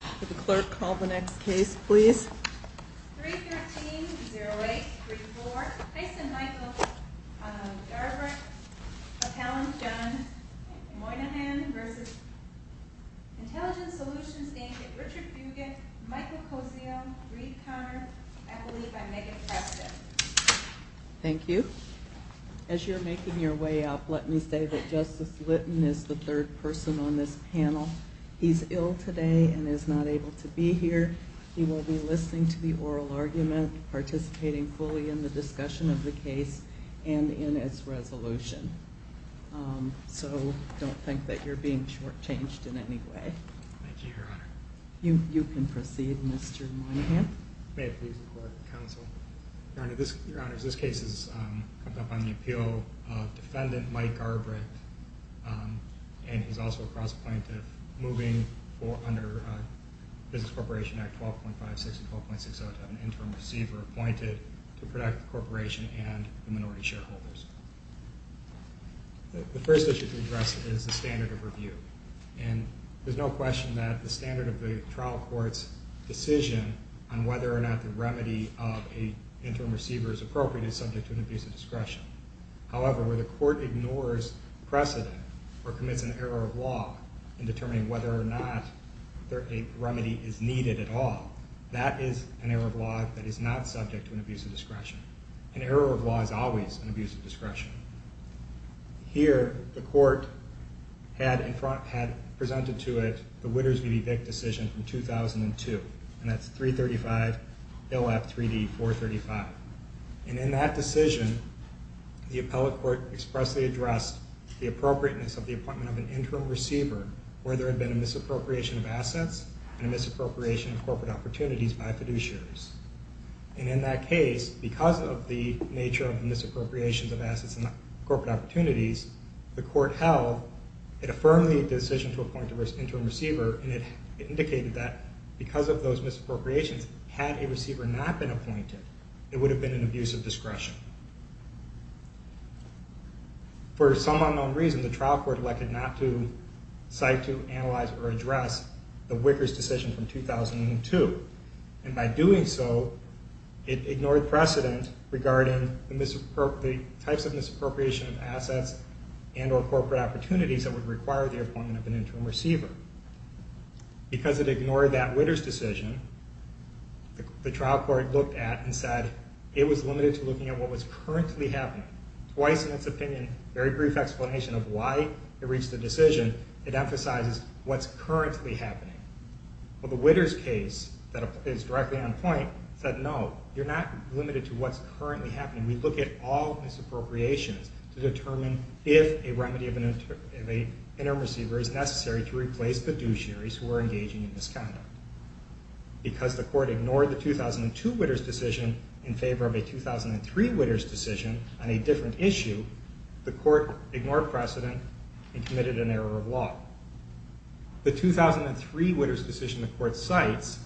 Could the clerk call the next case, please? 313-0834, Tyson Michael v. Garbrecht, McCallum John, Moynihan v. Intelligent Solutions, Inc. Richard Bugin, Michael Kosio, Reed Conard, I believe by Megan Preston. Thank you. As you're making your way up, let me say that Justice Litton is the third person on this panel. He's ill today and is not able to be here. He will be listening to the oral argument, participating fully in the discussion of the case, and in its resolution. So don't think that you're being shortchanged in any way. Thank you, Your Honor. You can proceed, Mr. Moynihan. May it please the Court, Counsel. Your Honor, this case has come up on the appeal of Defendant Mike Garbrecht, and he's also a cross-appointee moving under Business Corporation Act 12.56 and 12.60 to have an interim receiver appointed to protect the corporation and the minority shareholders. The first issue to address is the standard of review. And there's no question that the standard of the trial court's decision on whether or not the remedy of an interim receiver is appropriate is subject to an abuse of discretion. However, where the court ignores precedent or commits an error of law in determining whether or not a remedy is needed at all, that is an error of law that is not subject to an abuse of discretion. An error of law is always an abuse of discretion. Here, the court had presented to it the Witters v. Vick decision from 2002, and that's 335 LF 3D 435. And in that decision, the appellate court expressly addressed the appropriateness of the appointment of an interim receiver where there had been a misappropriation of assets and a misappropriation of corporate opportunities by fiduciaries. And in that case, because of the nature of the misappropriation of assets and corporate opportunities, the court held it affirmed the decision to appoint an interim receiver and it indicated that because of those misappropriations, had a receiver not been appointed, it would have been an abuse of discretion. For some unknown reason, the trial court elected not to cite, to analyze, or address the Wickers decision from 2002. And by doing so, it ignored precedent regarding the types of misappropriation of assets and or corporate opportunities that would require the appointment of an interim receiver. Because it ignored that Witters decision, the trial court looked at and said it was limited to looking at what was currently happening. Twice in its opinion, very brief explanation of why it reached the decision, it emphasizes what's currently happening. Well, the Witters case that is directly on point said no, you're not limited to what's currently happening. We look at all misappropriations to determine if a remedy of an interim receiver is necessary to replace the fiduciaries who are engaging in misconduct. Because the court ignored the 2002 Witters decision in favor of a 2003 Witters decision on a different issue, the court ignored precedent and committed an error of law. The 2003 Witters decision the court cites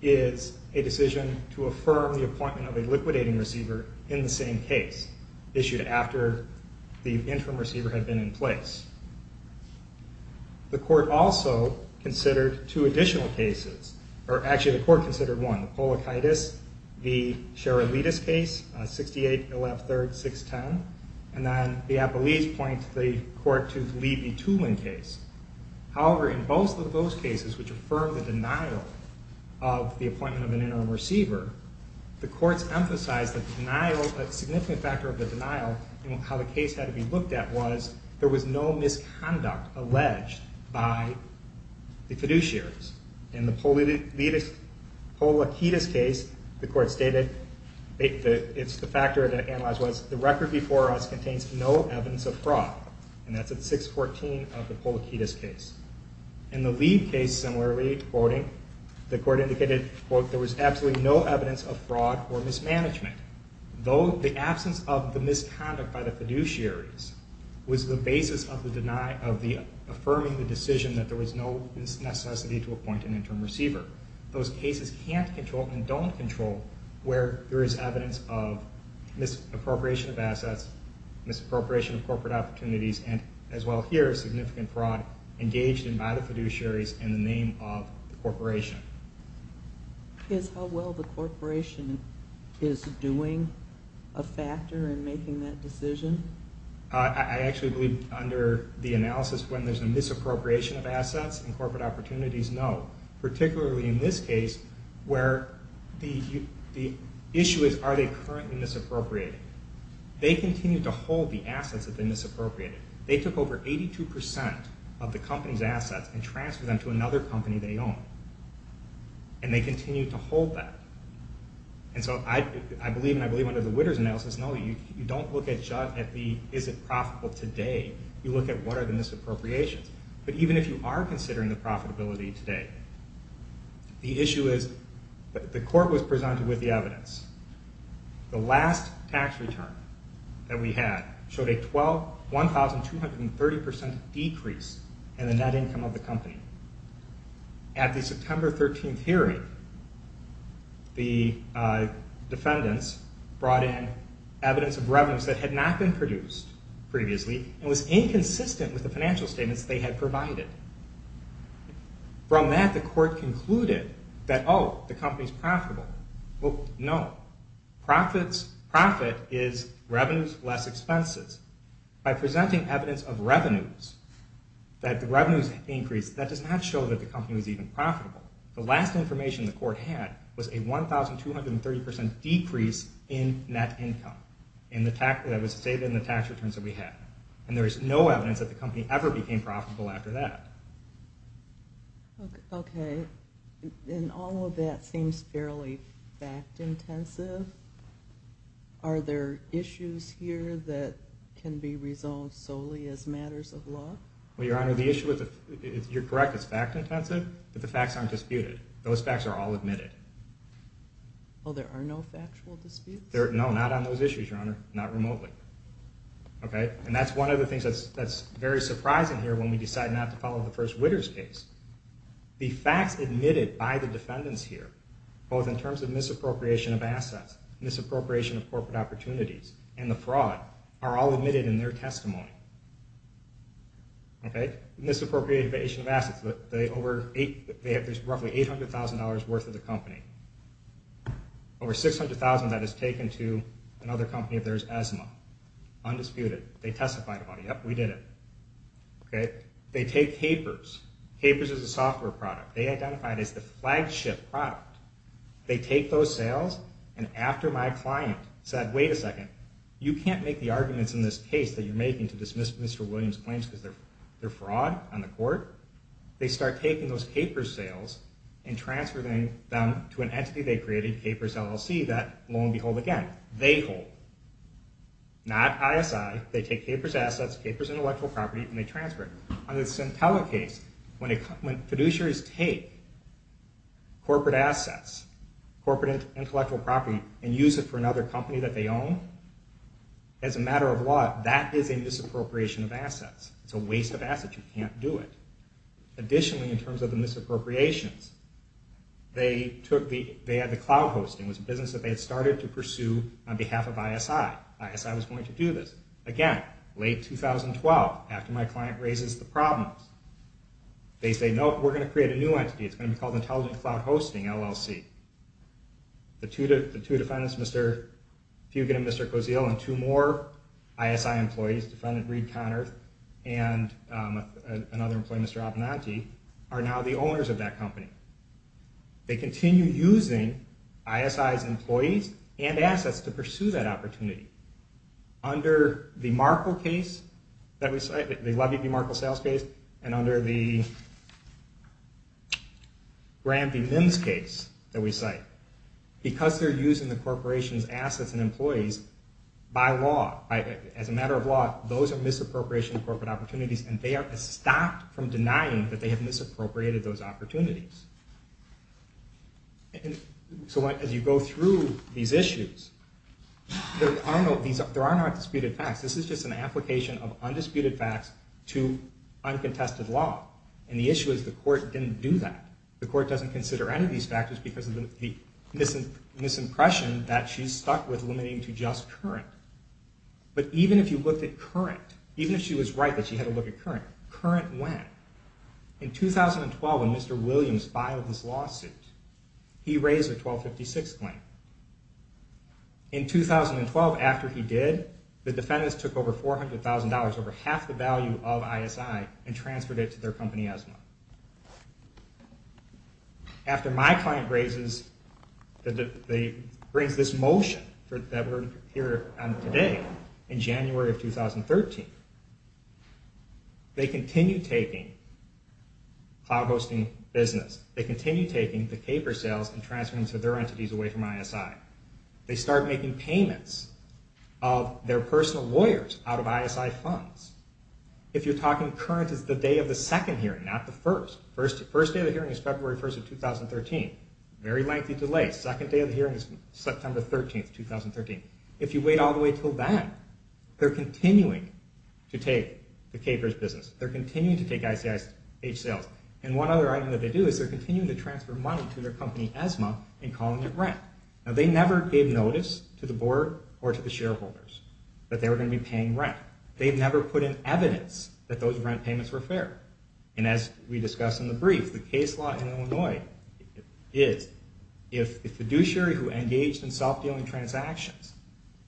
is a decision to affirm the appointment of a liquidating receiver in the same case, issued after the interim receiver had been in place. The court also considered two additional cases, or actually the court considered one, the Polakaitis v. Sheralidis case on 68-113-610. And then the Appellees point the court to the Lee v. Tulin case. However, in both of those cases which affirmed the denial of the appointment of an interim receiver, the courts emphasized that the denial, a significant factor of the denial in how the case had to be looked at was there was no misconduct alleged by the fiduciaries. In the Polakaitis case, the court stated it's the factor that analyzes the record before us contains no evidence of fraud, and that's at 614 of the Polakaitis case. In the Lee case, similarly, the court indicated there was absolutely no evidence of fraud or mismanagement, though the absence of the misconduct by the fiduciaries was the basis of the affirming the decision that there was no necessity to appoint an interim receiver. Those cases can't control and don't control where there is evidence of misappropriation of assets, misappropriation of corporate opportunities, and as well here, significant fraud engaged in by the fiduciaries in the name of the corporation. Is how well the corporation is doing a factor in making that decision? I actually believe under the analysis when there's a misappropriation of assets and corporate opportunities, no, particularly in this case where the issue is are they currently misappropriating? They continue to hold the assets that they misappropriated. They took over 82% of the company's assets and transferred them to another company they own, and they continue to hold that. I believe under the Witters analysis, no, you don't look at is it profitable today, you look at what are the misappropriations. But even if you are considering the profitability today, the issue is the court was presented with the evidence. The last tax return that we had showed a 1,230% decrease in the net income of the company. At the September 13th hearing, the defendants brought in evidence of revenues that had not been produced previously and was inconsistent with the financial statements they had provided. From that, the court concluded that, oh, the company's profitable. Well, no, profit is revenues less expenses. By presenting evidence of revenues, that the revenues increased, that does not show that the company was even profitable. The last information the court had was a 1,230% decrease in net income that was stated in the tax returns that we had. And there is no evidence that the company ever became profitable after that. Okay. And all of that seems fairly fact-intensive. Are there issues here that can be resolved solely as matters of law? Well, Your Honor, the issue is, you're correct, it's fact-intensive, but the facts aren't disputed. Those facts are all admitted. Well, there are no factual disputes? No, not on those issues, Your Honor, not remotely. Okay. And that's one of the things that's very surprising here when we decide not to follow the first widder's case. The facts admitted by the defendants here, both in terms of misappropriation of assets, misappropriation of corporate opportunities, and the fraud, are all admitted in their testimony. Okay. Misappropriation of assets, there's roughly $800,000 worth of the company. Over $600,000 of that is taken to another company if there's asthma. Undisputed. They testified about it. Yep, we did it. Okay. They take capers. Capers is a software product. They identify it as the flagship product. They take those sales, and after my client said, wait a second, you can't make the arguments in this case that you're making to dismiss Mr. Williams' claims because they're fraud on the court, they start taking those capers sales and transferring them to an entity they created, capers LLC, that lo and behold again, they hold. Not ISI. They take capers assets, capers intellectual property, and they transfer it. On the Centella case, when fiduciaries take corporate assets, corporate intellectual property, and use it for another company that they own, as a matter of law, that is a misappropriation of assets. It's a waste of assets. You can't do it. Additionally, in terms of the misappropriations, they had the cloud hosting. It was a business that they had started to pursue on behalf of ISI. ISI was going to do this. Again, late 2012, after my client raises the problem, they say, no, we're going to create a new entity. It's going to be called Intelligent Cloud Hosting, LLC. The two defendants, Mr. Fugate and Mr. Kozeel, and two more ISI employees, defendant Reed Connorth and another employee, Mr. Abinanti, are now the owners of that company. They continue using ISI's employees and assets to pursue that opportunity. Under the Levy v. Markle sales case and under the Grant v. Nims case that we cite, because they're using the corporation's assets and employees, by law, as a matter of law, those are misappropriation of corporate opportunities, and they are stopped from denying that they have misappropriated those opportunities. As you go through these issues, there are no disputed facts. This is just an application of undisputed facts to uncontested law. The issue is the court didn't do that. The court doesn't consider any of these factors because of the misimpression that she's stuck with limiting to just current. But even if you looked at current, even if she was right that she had to look at current, current when? In 2012, when Mr. Williams filed his lawsuit, he raised a 1256 claim. In 2012, after he did, the defendants took over $400,000, over half the value of ISI, and transferred it to their company ESMA. After my client raises, brings this motion that we're here on today, in January of 2013, they continue taking cloud hosting business, they continue taking the paper sales and transferring to their entities away from ISI. They start making payments of their personal lawyers out of ISI funds. If you're talking current, it's the day of the second hearing, not the first. First day of the hearing is February 1st of 2013. Very lengthy delay. Second day of the hearing is September 13th, 2013. If you wait all the way until then, they're continuing to take the papers business. They're continuing to take ISI sales. And one other item that they do is they're continuing to transfer money to their company ESMA and calling it rent. Now they never gave notice to the board or to the shareholders that they were going to be paying rent. They've never put in evidence that those rent payments were fair. And as we discussed in the brief, the case law in Illinois is if the fiduciary who engaged in self-dealing transactions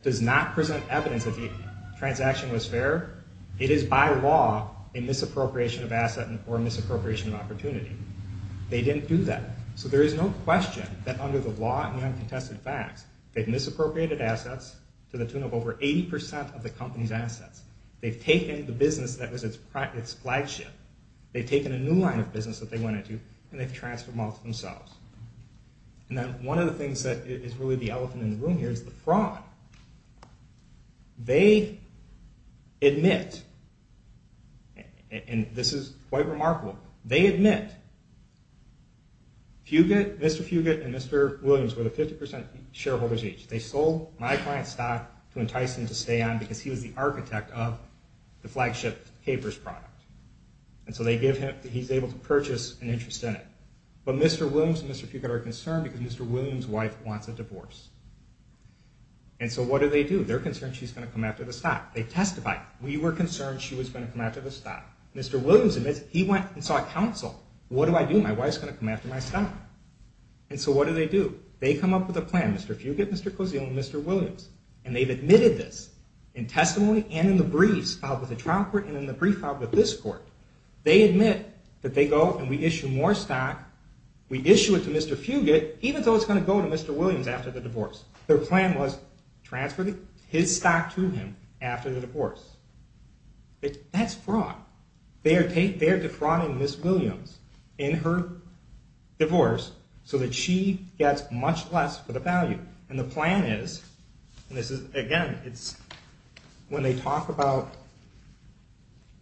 does not present evidence that the transaction was fair, it is by law a misappropriation of asset or a misappropriation of opportunity. They didn't do that. So there is no question that under the law and uncontested facts, to the tune of over 80% of the company's assets. They've taken the business that was its flagship. They've taken a new line of business that they went into and they've transferred them all to themselves. And then one of the things that is really the elephant in the room here is the fraud. They admit, and this is quite remarkable, they admit Mr. Fugate and Mr. Williams were the 50% shareholders each. They sold my client's stock to entice him to stay on because he was the architect of the flagship paper's product. And so they give him, he's able to purchase an interest in it. But Mr. Williams and Mr. Fugate are concerned because Mr. Williams' wife wants a divorce. And so what do they do? They're concerned she's going to come after the stock. They testify. We were concerned she was going to come after the stock. Mr. Williams admits he went and saw counsel. What do I do? My wife's going to come after my stock. And so what do they do? They come up with a plan. Mr. Fugate, Mr. Cozzio, and Mr. Williams. And they've admitted this in testimony and in the briefs filed with the trial court and in the brief filed with this court. They admit that they go and we issue more stock. We issue it to Mr. Fugate, even though it's going to go to Mr. Williams after the divorce. Their plan was transfer his stock to him after the divorce. That's fraud. They're defrauding Ms. Williams in her divorce so that she gets much less for the value. And the plan is, and this is, again, it's when they talk about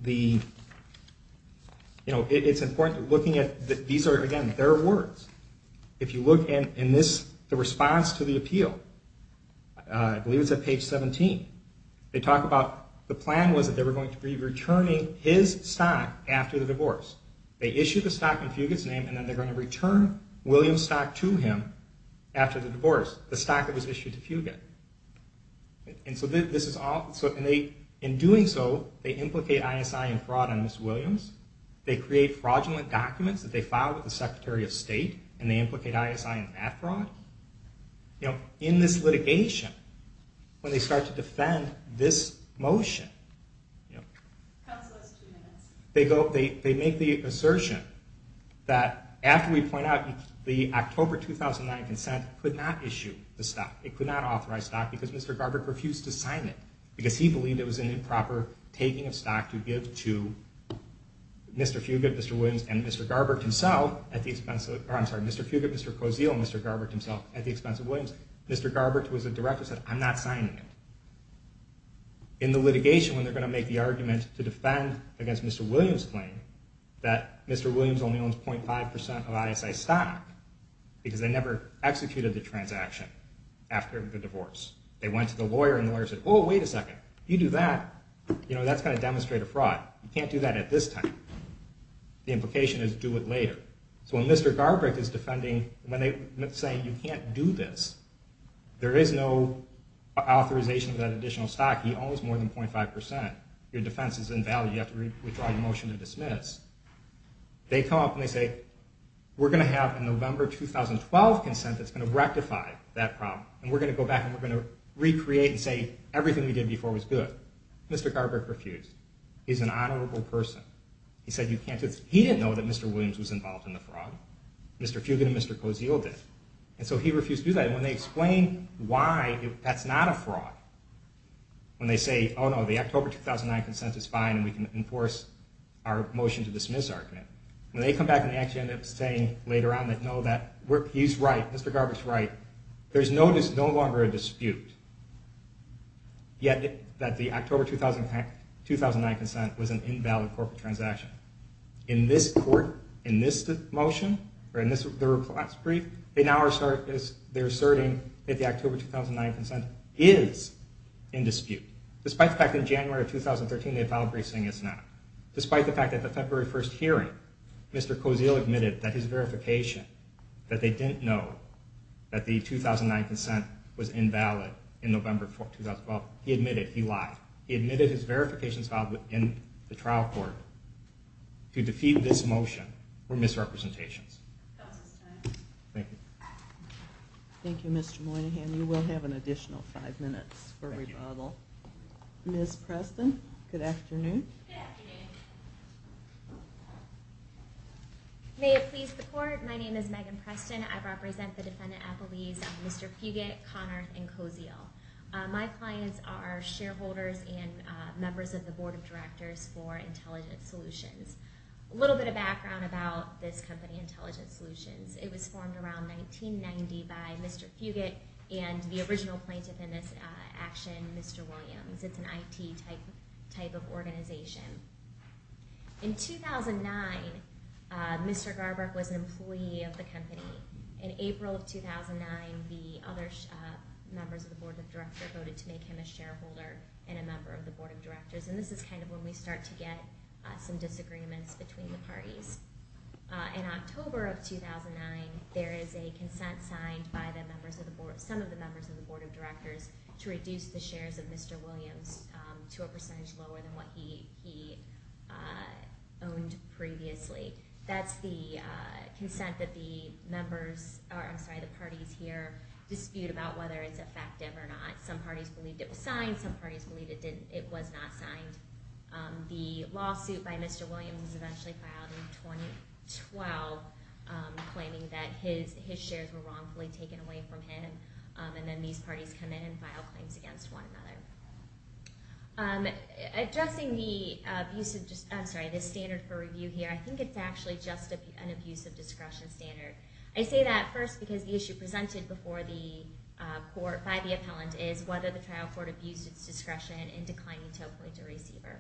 the, you know, it's important looking at these are, again, their words. If you look in this, the response to the appeal, I believe it's at page 17. They talk about the plan was that they were going to be returning his stock after the divorce. They issue the stock in Fugate's name, and then they're going to return Williams' stock to him after the divorce, the stock that was issued to Fugate. And so this is all, and they, in doing so, they implicate ISI in fraud on Ms. Williams. They create fraudulent documents that they filed with the Secretary of State, and they implicate ISI in that fraud. You know, in this litigation, when they start to defend this motion, they make the assertion that after we point out the October 2009 consent could not issue the stock. It could not authorize stock because Mr. Garber refused to sign it because he believed it was an improper taking of stock to give to Mr. Fugate, Mr. Williams, and Mr. Garber himself at the expense of, or I'm sorry, Mr. Fugate, Mr. Cozio, and Mr. Garber himself at the expense of Williams. Mr. Garber, who was the director, said, I'm not signing it. In the litigation, when they're going to make the argument to defend against Mr. Williams' claim that Mr. Williams only owns 0.5% of ISI stock because they never executed the transaction after the divorce, they went to the lawyer and the lawyer said, oh, wait a second, you do that, you know, that's going to demonstrate a fraud. You can't do that at this time. The implication is do it later. So when Mr. Garber is defending, when they're saying you can't do this, there is no authorization of that additional stock. He owns more than 0.5%. Your defense is invalid. You have to withdraw your motion to dismiss. They come up and they say, we're going to have a November 2012 consent that's going to rectify that problem. And we're going to go back and we're going to recreate and say everything we did before was good. Mr. Garber refused. He's an honorable person. He said you can't do this. He didn't know that Mr. Williams was involved in the fraud. Mr. Fugate and Mr. Cozio did. And so he refused to do that. And when they explain why that's not a fraud, when they say, oh, no, the October 2009 consent is fine and we can enforce our motion to dismiss argument, when they come back and they actually end up saying later on that, no, that he's right, Mr. Garber's right, there's no longer a dispute, yet that the October 2009 consent was an invalid corporate transaction. In this court, in this motion, or in this brief, they're now asserting that the October 2009 consent is in dispute. Despite the fact that in January of 2013 they filed a brief saying it's not. Despite the fact that the February 1st hearing, Mr. Cozio admitted that his verification that they didn't know that the 2009 consent was invalid in November 2012. He admitted he lied. He admitted his verifications filed in the trial court to defeat this motion were misrepresentations. That was his time. Thank you. Thank you, Mr. Moynihan. You will have an additional five minutes for rebuttal. Ms. Preston, good afternoon. Good afternoon. May it please the court, my name is Megan Preston. I represent the defendant appellees of Mr. Puget, Connorth, and Cozio. My clients are shareholders and members of the board of directors for Intelligent Solutions. A little bit of background about this company, Intelligent Solutions. It was formed around 1990 by Mr. Puget and the original plaintiff in this action, Mr. Williams. It's an IT type of organization. In 2009, Mr. Garber was an employee of the company. In April of 2009, the other members of the board of directors voted to make him a shareholder and a member of the board of directors. This is kind of when we start to get some disagreements between the parties. In October of 2009, there is a consent signed by some of the members of the board of directors to reduce the shares of Mr. Williams to a percentage lower than what he owned previously. That's the consent that the parties here dispute about whether it's effective or not. Some parties believed it was signed, some parties believed it was not signed. The lawsuit by Mr. Williams was eventually filed in 2012 claiming that his shares were wrongfully taken away from him. Then these parties come in and file claims against one another. Addressing the standard for review here, I think it's actually just an abuse of discretion standard. I say that first because the issue presented before the court by the appellant is whether the trial court abused its discretion in declining to appoint a receiver.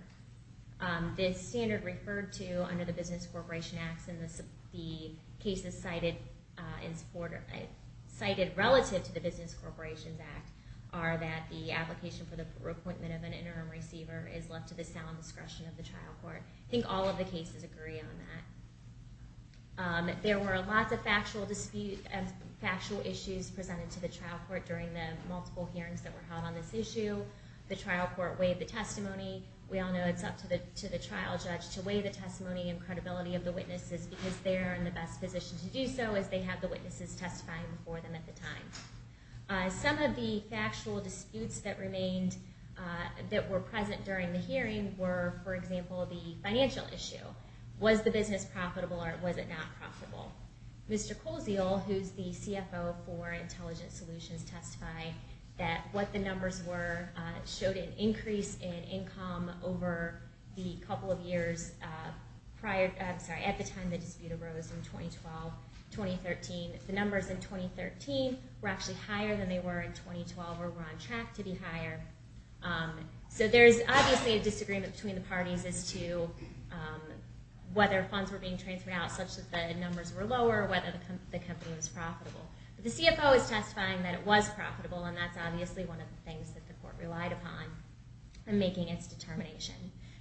The standard referred to under the Business Corporation Act and the cases cited relative to the Business Corporations Act are that the application for the appointment of an interim receiver is left to the sound discretion of the trial court. I think all of the cases agree on that. There were lots of factual issues presented to the trial court during the multiple hearings that were held on this issue. The trial court waived the testimony. We all know it's up to the trial judge to waive the testimony and credibility of the witnesses because they are in the best position to do so as they have the witnesses testifying before them at the time. Some of the factual disputes that remained that were present during the hearing were, for example, the financial issue. Was the business profitable or was it not profitable? Mr. Colesial, who's the CFO, testified that what the numbers were showed an increase in income over the couple of years at the time the dispute arose in 2012-2013. The numbers in 2013 were actually higher than they were in 2012 or were on track to be higher. So there's obviously a disagreement between the parties as to whether funds were being transferred out such that the numbers were lower or whether the company was profitable. The CFO is testifying that it was profitable and that's obviously one of the things that the court relied upon in making its determination.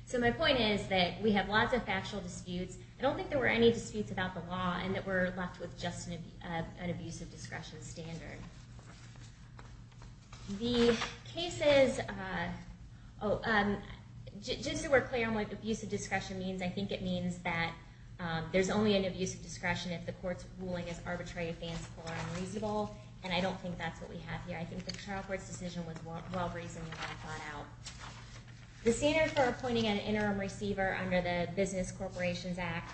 So my point is that we have lots of factual disputes. I don't think there were any disputes about the law and that we're left with just an abusive discretion standard. The cases just so we're clear on what abusive discretion means, I think it means that there's only an abusive discretion if the case is found reasonable, and I don't think that's what we have here. I think the trial court's decision was well-reasoned and thought out. The standard for appointing an interim receiver under the Business Corporations Act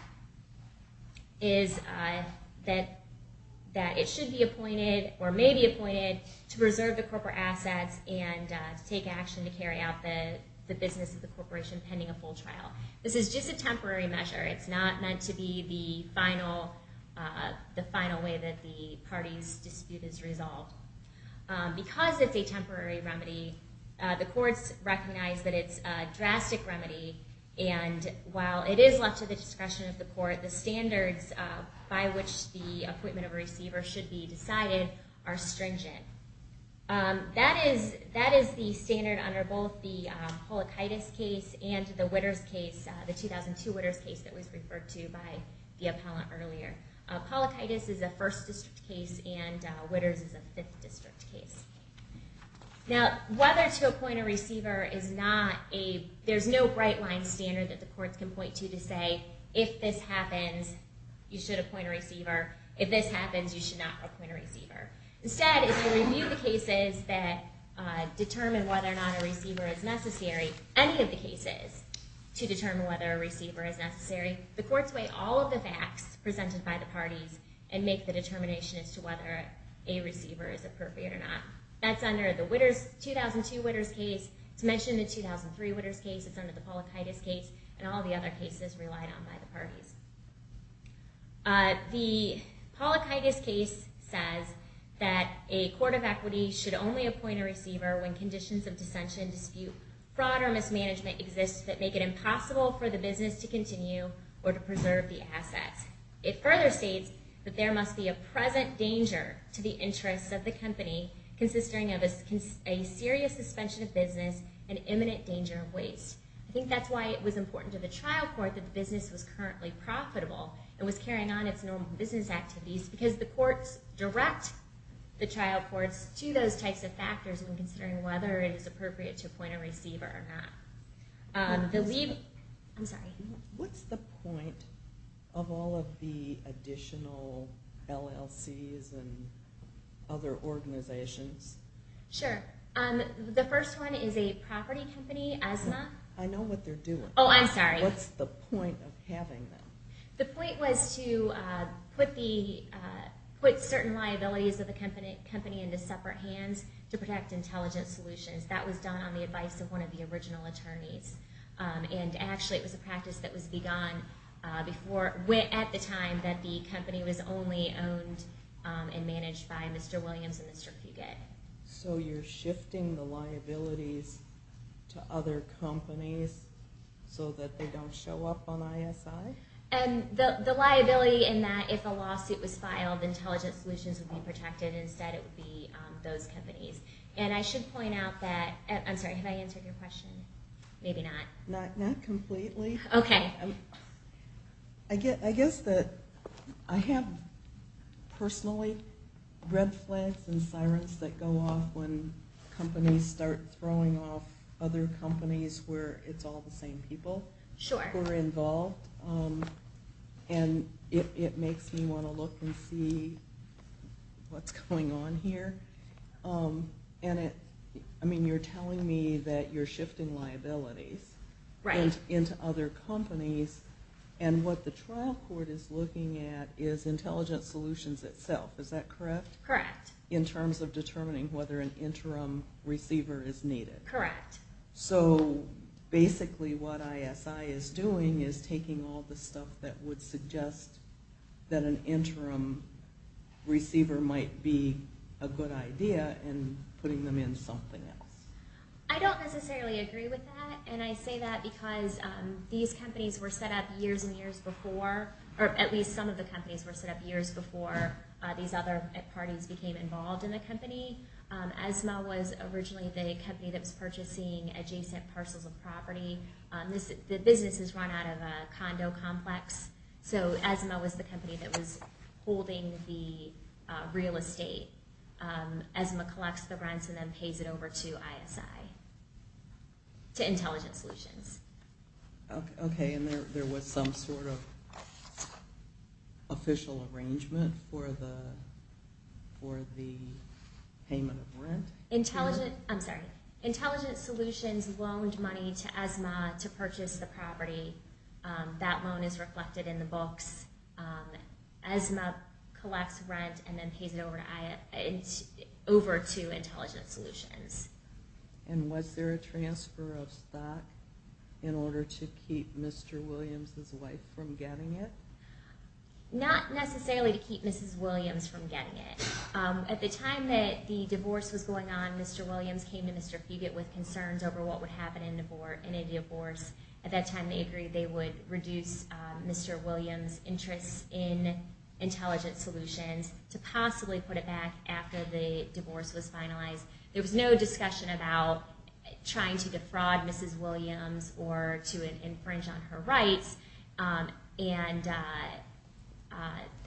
is that it should be appointed or may be appointed to preserve the corporate assets and take action to carry out the business of the corporation pending a full trial. This is just a temporary measure. It's not meant to be the final way that the party's dispute is resolved. Because it's a temporary remedy, the courts recognize that it's a drastic remedy and while it is left to the discretion of the court, the standards by which the appointment of a receiver should be decided are stringent. That is the standard under both the Polokaitis case and the Witters case, the 2002 Witters case that was referred to by the first district case and Witters is a fifth district case. Now, whether to appoint a receiver is not a there's no bright line standard that the courts can point to to say, if this happens, you should appoint a receiver. If this happens, you should not appoint a receiver. Instead, if you review the cases that determine whether or not a receiver is necessary, any of the cases to determine whether a receiver is necessary, the courts weigh all of the facts presented by the parties and make the determination as to whether a receiver is appropriate or not. That's under the Witters, 2002 Witters case, it's mentioned in the 2003 Witters case, it's under the Polokaitis case, and all the other cases relied on by the parties. The Polokaitis case says that a court of equity should only appoint a receiver when conditions of dissension, dispute, fraud, or mismanagement exist that make it impossible for the business to continue or to preserve the assets. It further states that there must be a present danger to the interests of the company, consisting of a serious suspension of business and imminent danger of waste. I think that's why it was important to the trial court that the business was currently profitable and was carrying on its normal business activities, because the courts direct the trial courts to those types of factors when considering whether it is appropriate to appoint a receiver or not. I'm sorry. What's the point of all of the additional LLCs and other organizations? Sure. The first one is a property company, ESMA. I know what they're doing. Oh, I'm sorry. What's the point of having them? The point was to put certain liabilities of the company into separate hands to protect intelligence solutions. That was done on the advice of one of the original attorneys. Actually, it was a practice that was begun at the time that the company was only owned and managed by Mr. Williams and Mr. Puget. You're shifting the liabilities to other companies so that they don't show up on ISI? The liability in that if a lawsuit was filed, intelligence solutions would be protected. Instead, it would be those I'm sorry. Have I answered your question? Maybe not. Not completely. Okay. I guess that I have personally red flags and sirens that go off when companies start throwing off other companies where it's all the same people who are involved. Sure. It makes me want to look and see what's going on here. I mean, you're telling me that you're shifting liabilities into other companies and what the trial court is looking at is intelligence solutions itself. Is that correct? Correct. In terms of determining whether an interim receiver is needed? Correct. Basically, what ISI is doing is taking all the stuff that would suggest that an interim receiver might be a good idea and putting them in something else. I don't necessarily agree with that, and I say that because these companies were set up years and years before, or at least some of the companies were set up years before these other parties became involved in the company. ESMA was originally the company that was purchasing adjacent parcels of property. The business is run out of a condo complex, so ESMA was the company that was holding the real estate. ESMA collects the rents and then pays it over to ISI to Intelligence Solutions. Okay, and there was some sort of official arrangement for the payment of rent? Intelligence Solutions loaned money to ESMA to purchase the property. That loan is reflected in the books. ESMA collects rent and then pays it over to Intelligence Solutions. And was there a transfer of stock in order to keep Mr. Williams' wife from getting it? Not necessarily to keep Mrs. Williams from getting it. At the time that the divorce was going on, Mr. Williams came to Mr. Fugate with concerns over what would happen in a divorce. At that time, they agreed they would reduce Mr. Williams' interests in Intelligence Solutions to possibly put it back after the divorce was finalized. There was no discussion about trying to defraud Mrs. Williams or to infringe on her rights. And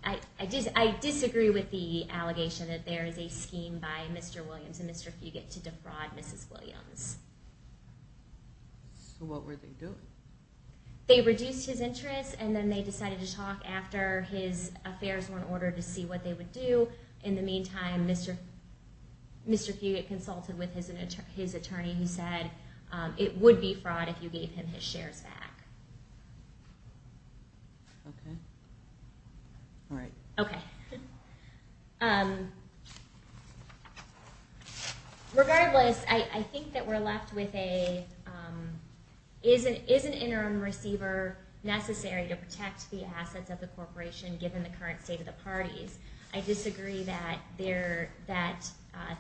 I disagree with the allegation that there is a scheme by Mr. Williams and Mr. Fugate to defraud Mrs. Williams. So what were they doing? They reduced his interests and then they decided to talk after his affairs were in order to see what they would do. In the meantime, Mr. Fugate consulted with his attorney who said it would be fraud if you gave him his shares back. Okay. Alright. Okay. Regardless, I think that we're left with a is an interim receiver necessary to protect the assets of the corporation given the current state of the parties? I disagree that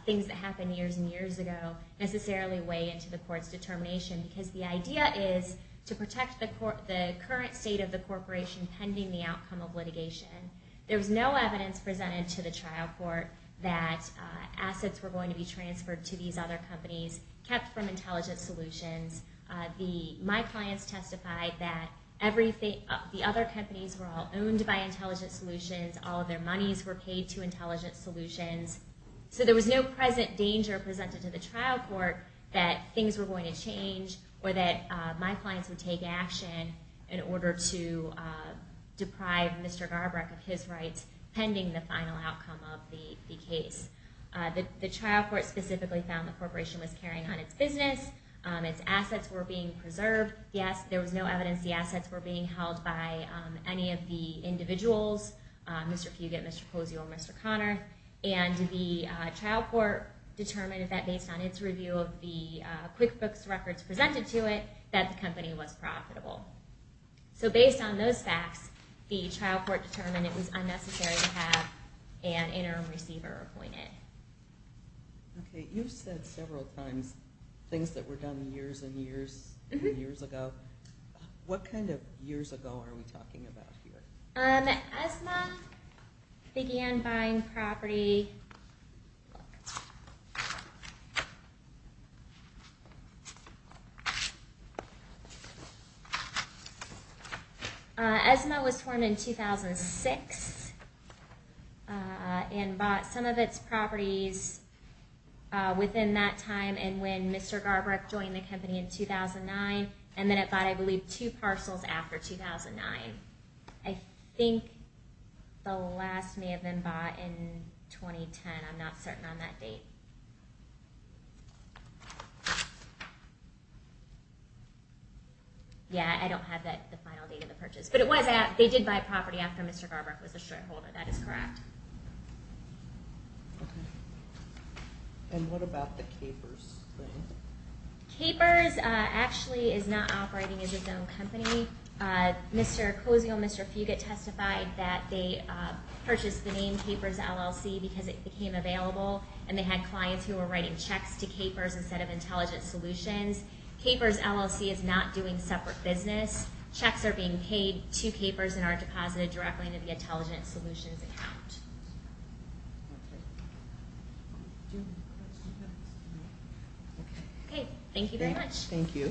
things that happened years and years ago necessarily weigh into the court's determination because the idea is to protect the current state of the corporation pending the outcome of litigation. There was no evidence presented to the trial court that assets were going to be transferred to these other companies kept from Intelligent Solutions. My clients testified that the other companies were all owned by Intelligent Solutions. All of their monies were paid to Intelligent Solutions. So there was no present danger presented to the trial court that things were going to change or that my clients would take action in order to deprive Mr. Garbrecht of his rights pending the final outcome of the case. The trial court specifically found the corporation was carrying on its business. Its assets were being preserved. There was no evidence the assets were being held by any of the individuals, Mr. Fugate, Mr. Posey, or Mr. Connor. And the trial court determined that based on its review of the QuickBooks records presented to it, that the company was profitable. So based on those facts, the trial court determined it was unnecessary to have an interim receiver appointed. Okay, you've said several times things that were done years and years and years ago. What kind of years ago are we talking about here? ESMA began buying property ESMA was formed in 2006 and bought some of its properties within that time and when Mr. Garbrecht joined the company in 2009, and then it bought I believe two parcels after 2009. I think the last may have been bought in 2010. I'm not certain on that date. Yeah, I don't have the final date of the purchase. But they did buy property after Mr. Garbrecht was a shareholder, that is correct. Okay. And what about the Capers thing? Capers actually is not operating as its own company. Mr. Posey or Mr. Fugate testified that they purchased the name Capers LLC because it became available and they had clients who were writing checks to Capers instead of intelligent solutions. Capers LLC is not doing separate business. Checks are being paid to Capers and are deposited directly to the intelligent solutions account. Okay. Thank you very much. Thank you.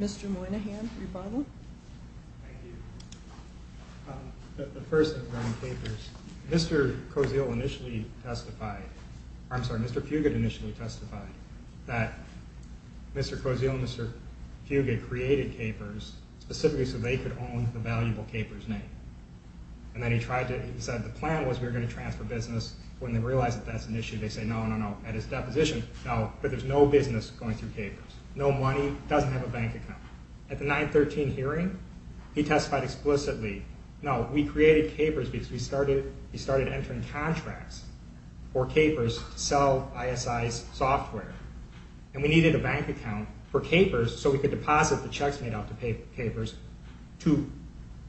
Mr. Moynihan, your Bible. Thank you. The person running Capers, Mr. Posey will initially testify, I'm sorry, Mr. Fugate initially testified that Mr. Posey and Mr. Fugate created Capers specifically so they could own the valuable Capers name. And then he tried to, he said, the plan was we were going to transfer business. When they realized that that's an issue, they said, no, no, no. At his deposition, no, but there's no business going through Capers. No money, doesn't have a bank account. At the 913 hearing, he testified explicitly, no, we created Capers because we started entering contracts for Capers to sell ISI's software. And we needed a bank account for Capers so we could deposit the checks made out to Capers to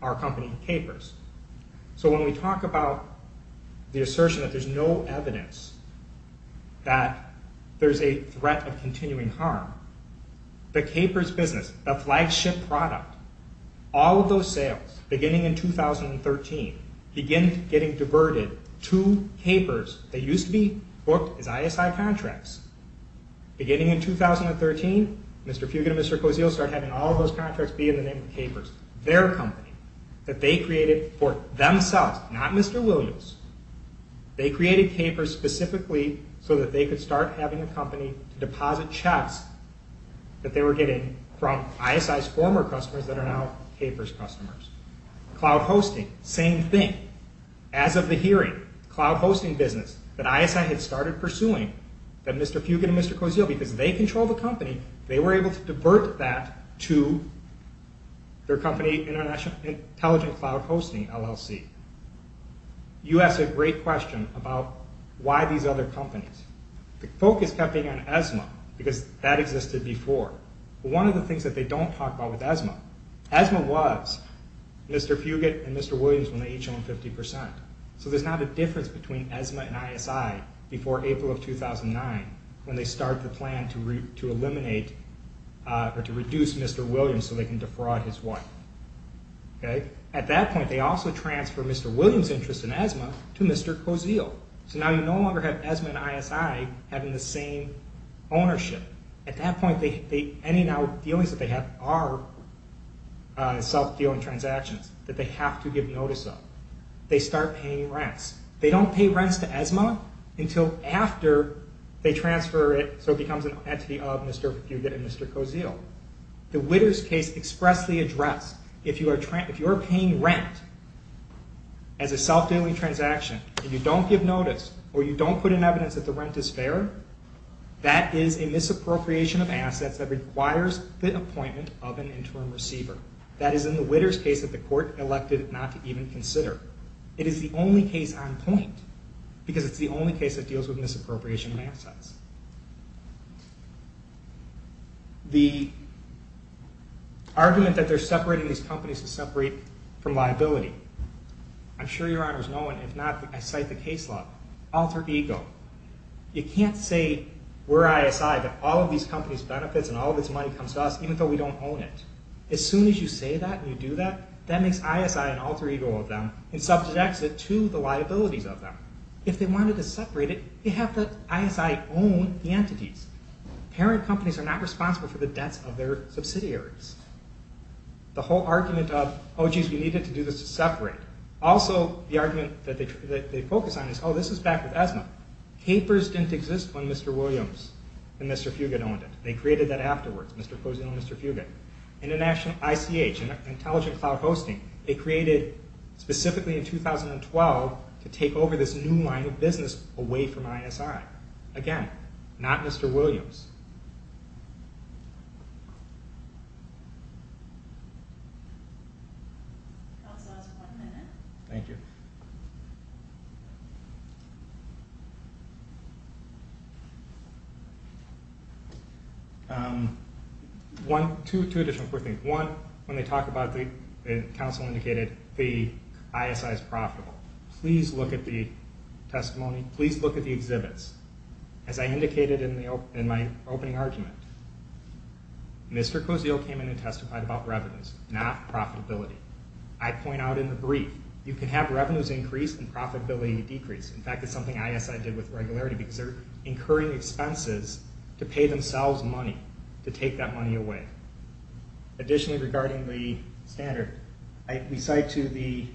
our company, Capers. So when we talk about the assertion that there's no evidence that there's a threat of continuing harm, the Capers business, the flagship product, all of those sales, beginning in 2013, began getting diverted to Capers. They used to be booked as ISI contracts. Beginning in 2013, Mr. Fugate and Mr. Cozio started having all those contracts be in the name of Capers, their company, that they created for themselves, not Mr. Williams. They created Capers specifically so that they could start having a company to deposit checks that they were getting from ISI's former customers that are now Capers customers. Cloud hosting, same thing. As of the hearing, cloud hosting business that ISI had started pursuing, that Mr. Fugate and Mr. Cozio, because they control the company, they were able to divert that to their company Intelligent Cloud Hosting, LLC. You asked a great question about why these other companies. The focus kept being on ESMA because that existed before. One of the things that they don't talk about with ESMA, ESMA was Mr. Fugate and Mr. Williams when they each owned 50%. There's not a difference between ESMA and ISI before April of 2009 when they started the plan to eliminate or to reduce Mr. Williams so they can defraud his wife. At that point, they also transferred Mr. Williams' interest in ESMA to Mr. Cozio. Now you no longer have ESMA and ISI having the same ownership. At that point, any now dealings that they have are self-dealing transactions that they have to give notice of. They start paying rents. They don't pay rents to ESMA until after they transfer it so it becomes an entity of Mr. Fugate and Mr. Cozio. The Witters case expressly addressed, if you are paying rent as a self-dealing transaction and you don't give notice or you don't put in evidence that the rent is fair, that is a misappropriation of assets that requires the appointment of an interim receiver. That is in the Witters case that the court elected not to even consider. It is the only case on point because it's the only case that deals with misappropriation of assets. The argument that they're separating these companies is separate from liability. I'm sure Your Honors know it. If not, I cite the case law. Alter ego. You can't say we're ISI that all of these companies' benefits and all of its money comes to us even though we don't own it. As soon as you say that and you do that, that makes ISI an alter ego of them and subjects it to the liabilities of them. If they wanted to separate it, they'd have the ISI own the entities. Parent companies are not responsible for the debts of their The whole argument of, oh geez, we needed to do this to separate. Also, the argument that they focus on is, oh, this is back with ESMA. Capers didn't exist when Mr. Williams and Mr. Fugate owned it. They created that afterwards. Mr. Posey and Mr. Fugate. International ICH, Intelligent Cloud Hosting, they created specifically in 2012 to take over this new line of business away from ISI. Again, not Mr. Williams. Thank you. Two additional quick things. One, when they talk about the council indicated the ISI is profitable. Please look at the testimony. Please look at the exhibits. As I indicated in my opening argument, Mr. Cozio came in and testified about revenues, not profitability. I point out in the brief, you can have revenues increase and profitability decrease. In fact, it's something ISI did with regularity because they're incurring expenses to pay themselves money to take that money away. Additionally, regarding the standard, we cite to the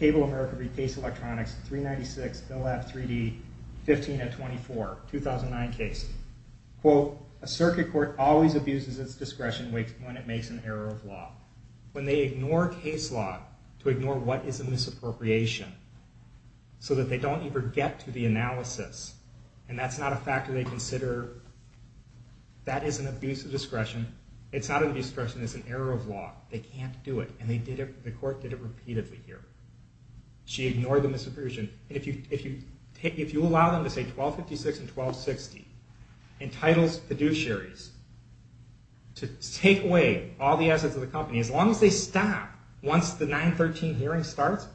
Cable America Rephase Electronics 396, Bill F. 3D, 15-24, 2009 case. Quote, a circuit court always abuses its discretion when it makes an error of law. When they ignore case law to ignore what is a misappropriation so that they don't even get to the analysis, and that's not a factor they consider, that is an abuse of discretion. It's not an abuse of discretion. It's an error of law. They can't do it, and the court did it repeatedly here. She ignored the misappropriation. If you allow them to say 1256 and 1260 in titles fiduciaries to take away all the assets of the company, as long as they stop once the 913 hearing starts,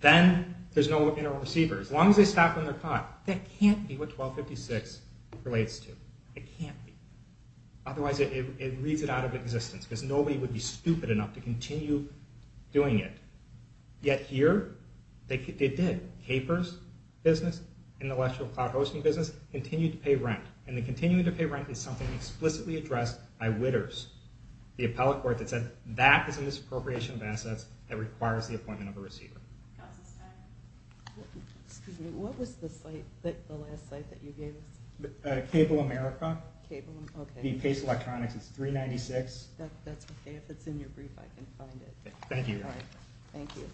then there's no internal receiver. As long as they stop when they're caught, that can't be what 1256 relates to. It can't be. Otherwise, it reads it out of existence because nobody would be stupid enough to continue doing it. Yet here, they did. Capers business, intellectual cloud hosting business continued to pay rent, and the continuing to pay rent is something explicitly addressed by Witters, the appellate court that said that is a misappropriation of assets that requires the appointment of a receiver. Excuse me, what was the site the last site that you gave us? Cable America. The Pace Electronics. It's 396. That's okay. If it's in your brief, I can find it. Thank you. Thank you.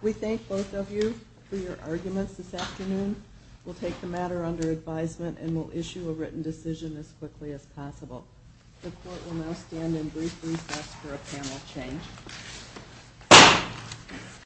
We thank both of you for your arguments this afternoon. We'll take the matter under advisement, and we'll issue a written decision as quickly as possible. The court will now stand in brief recess for a panel change.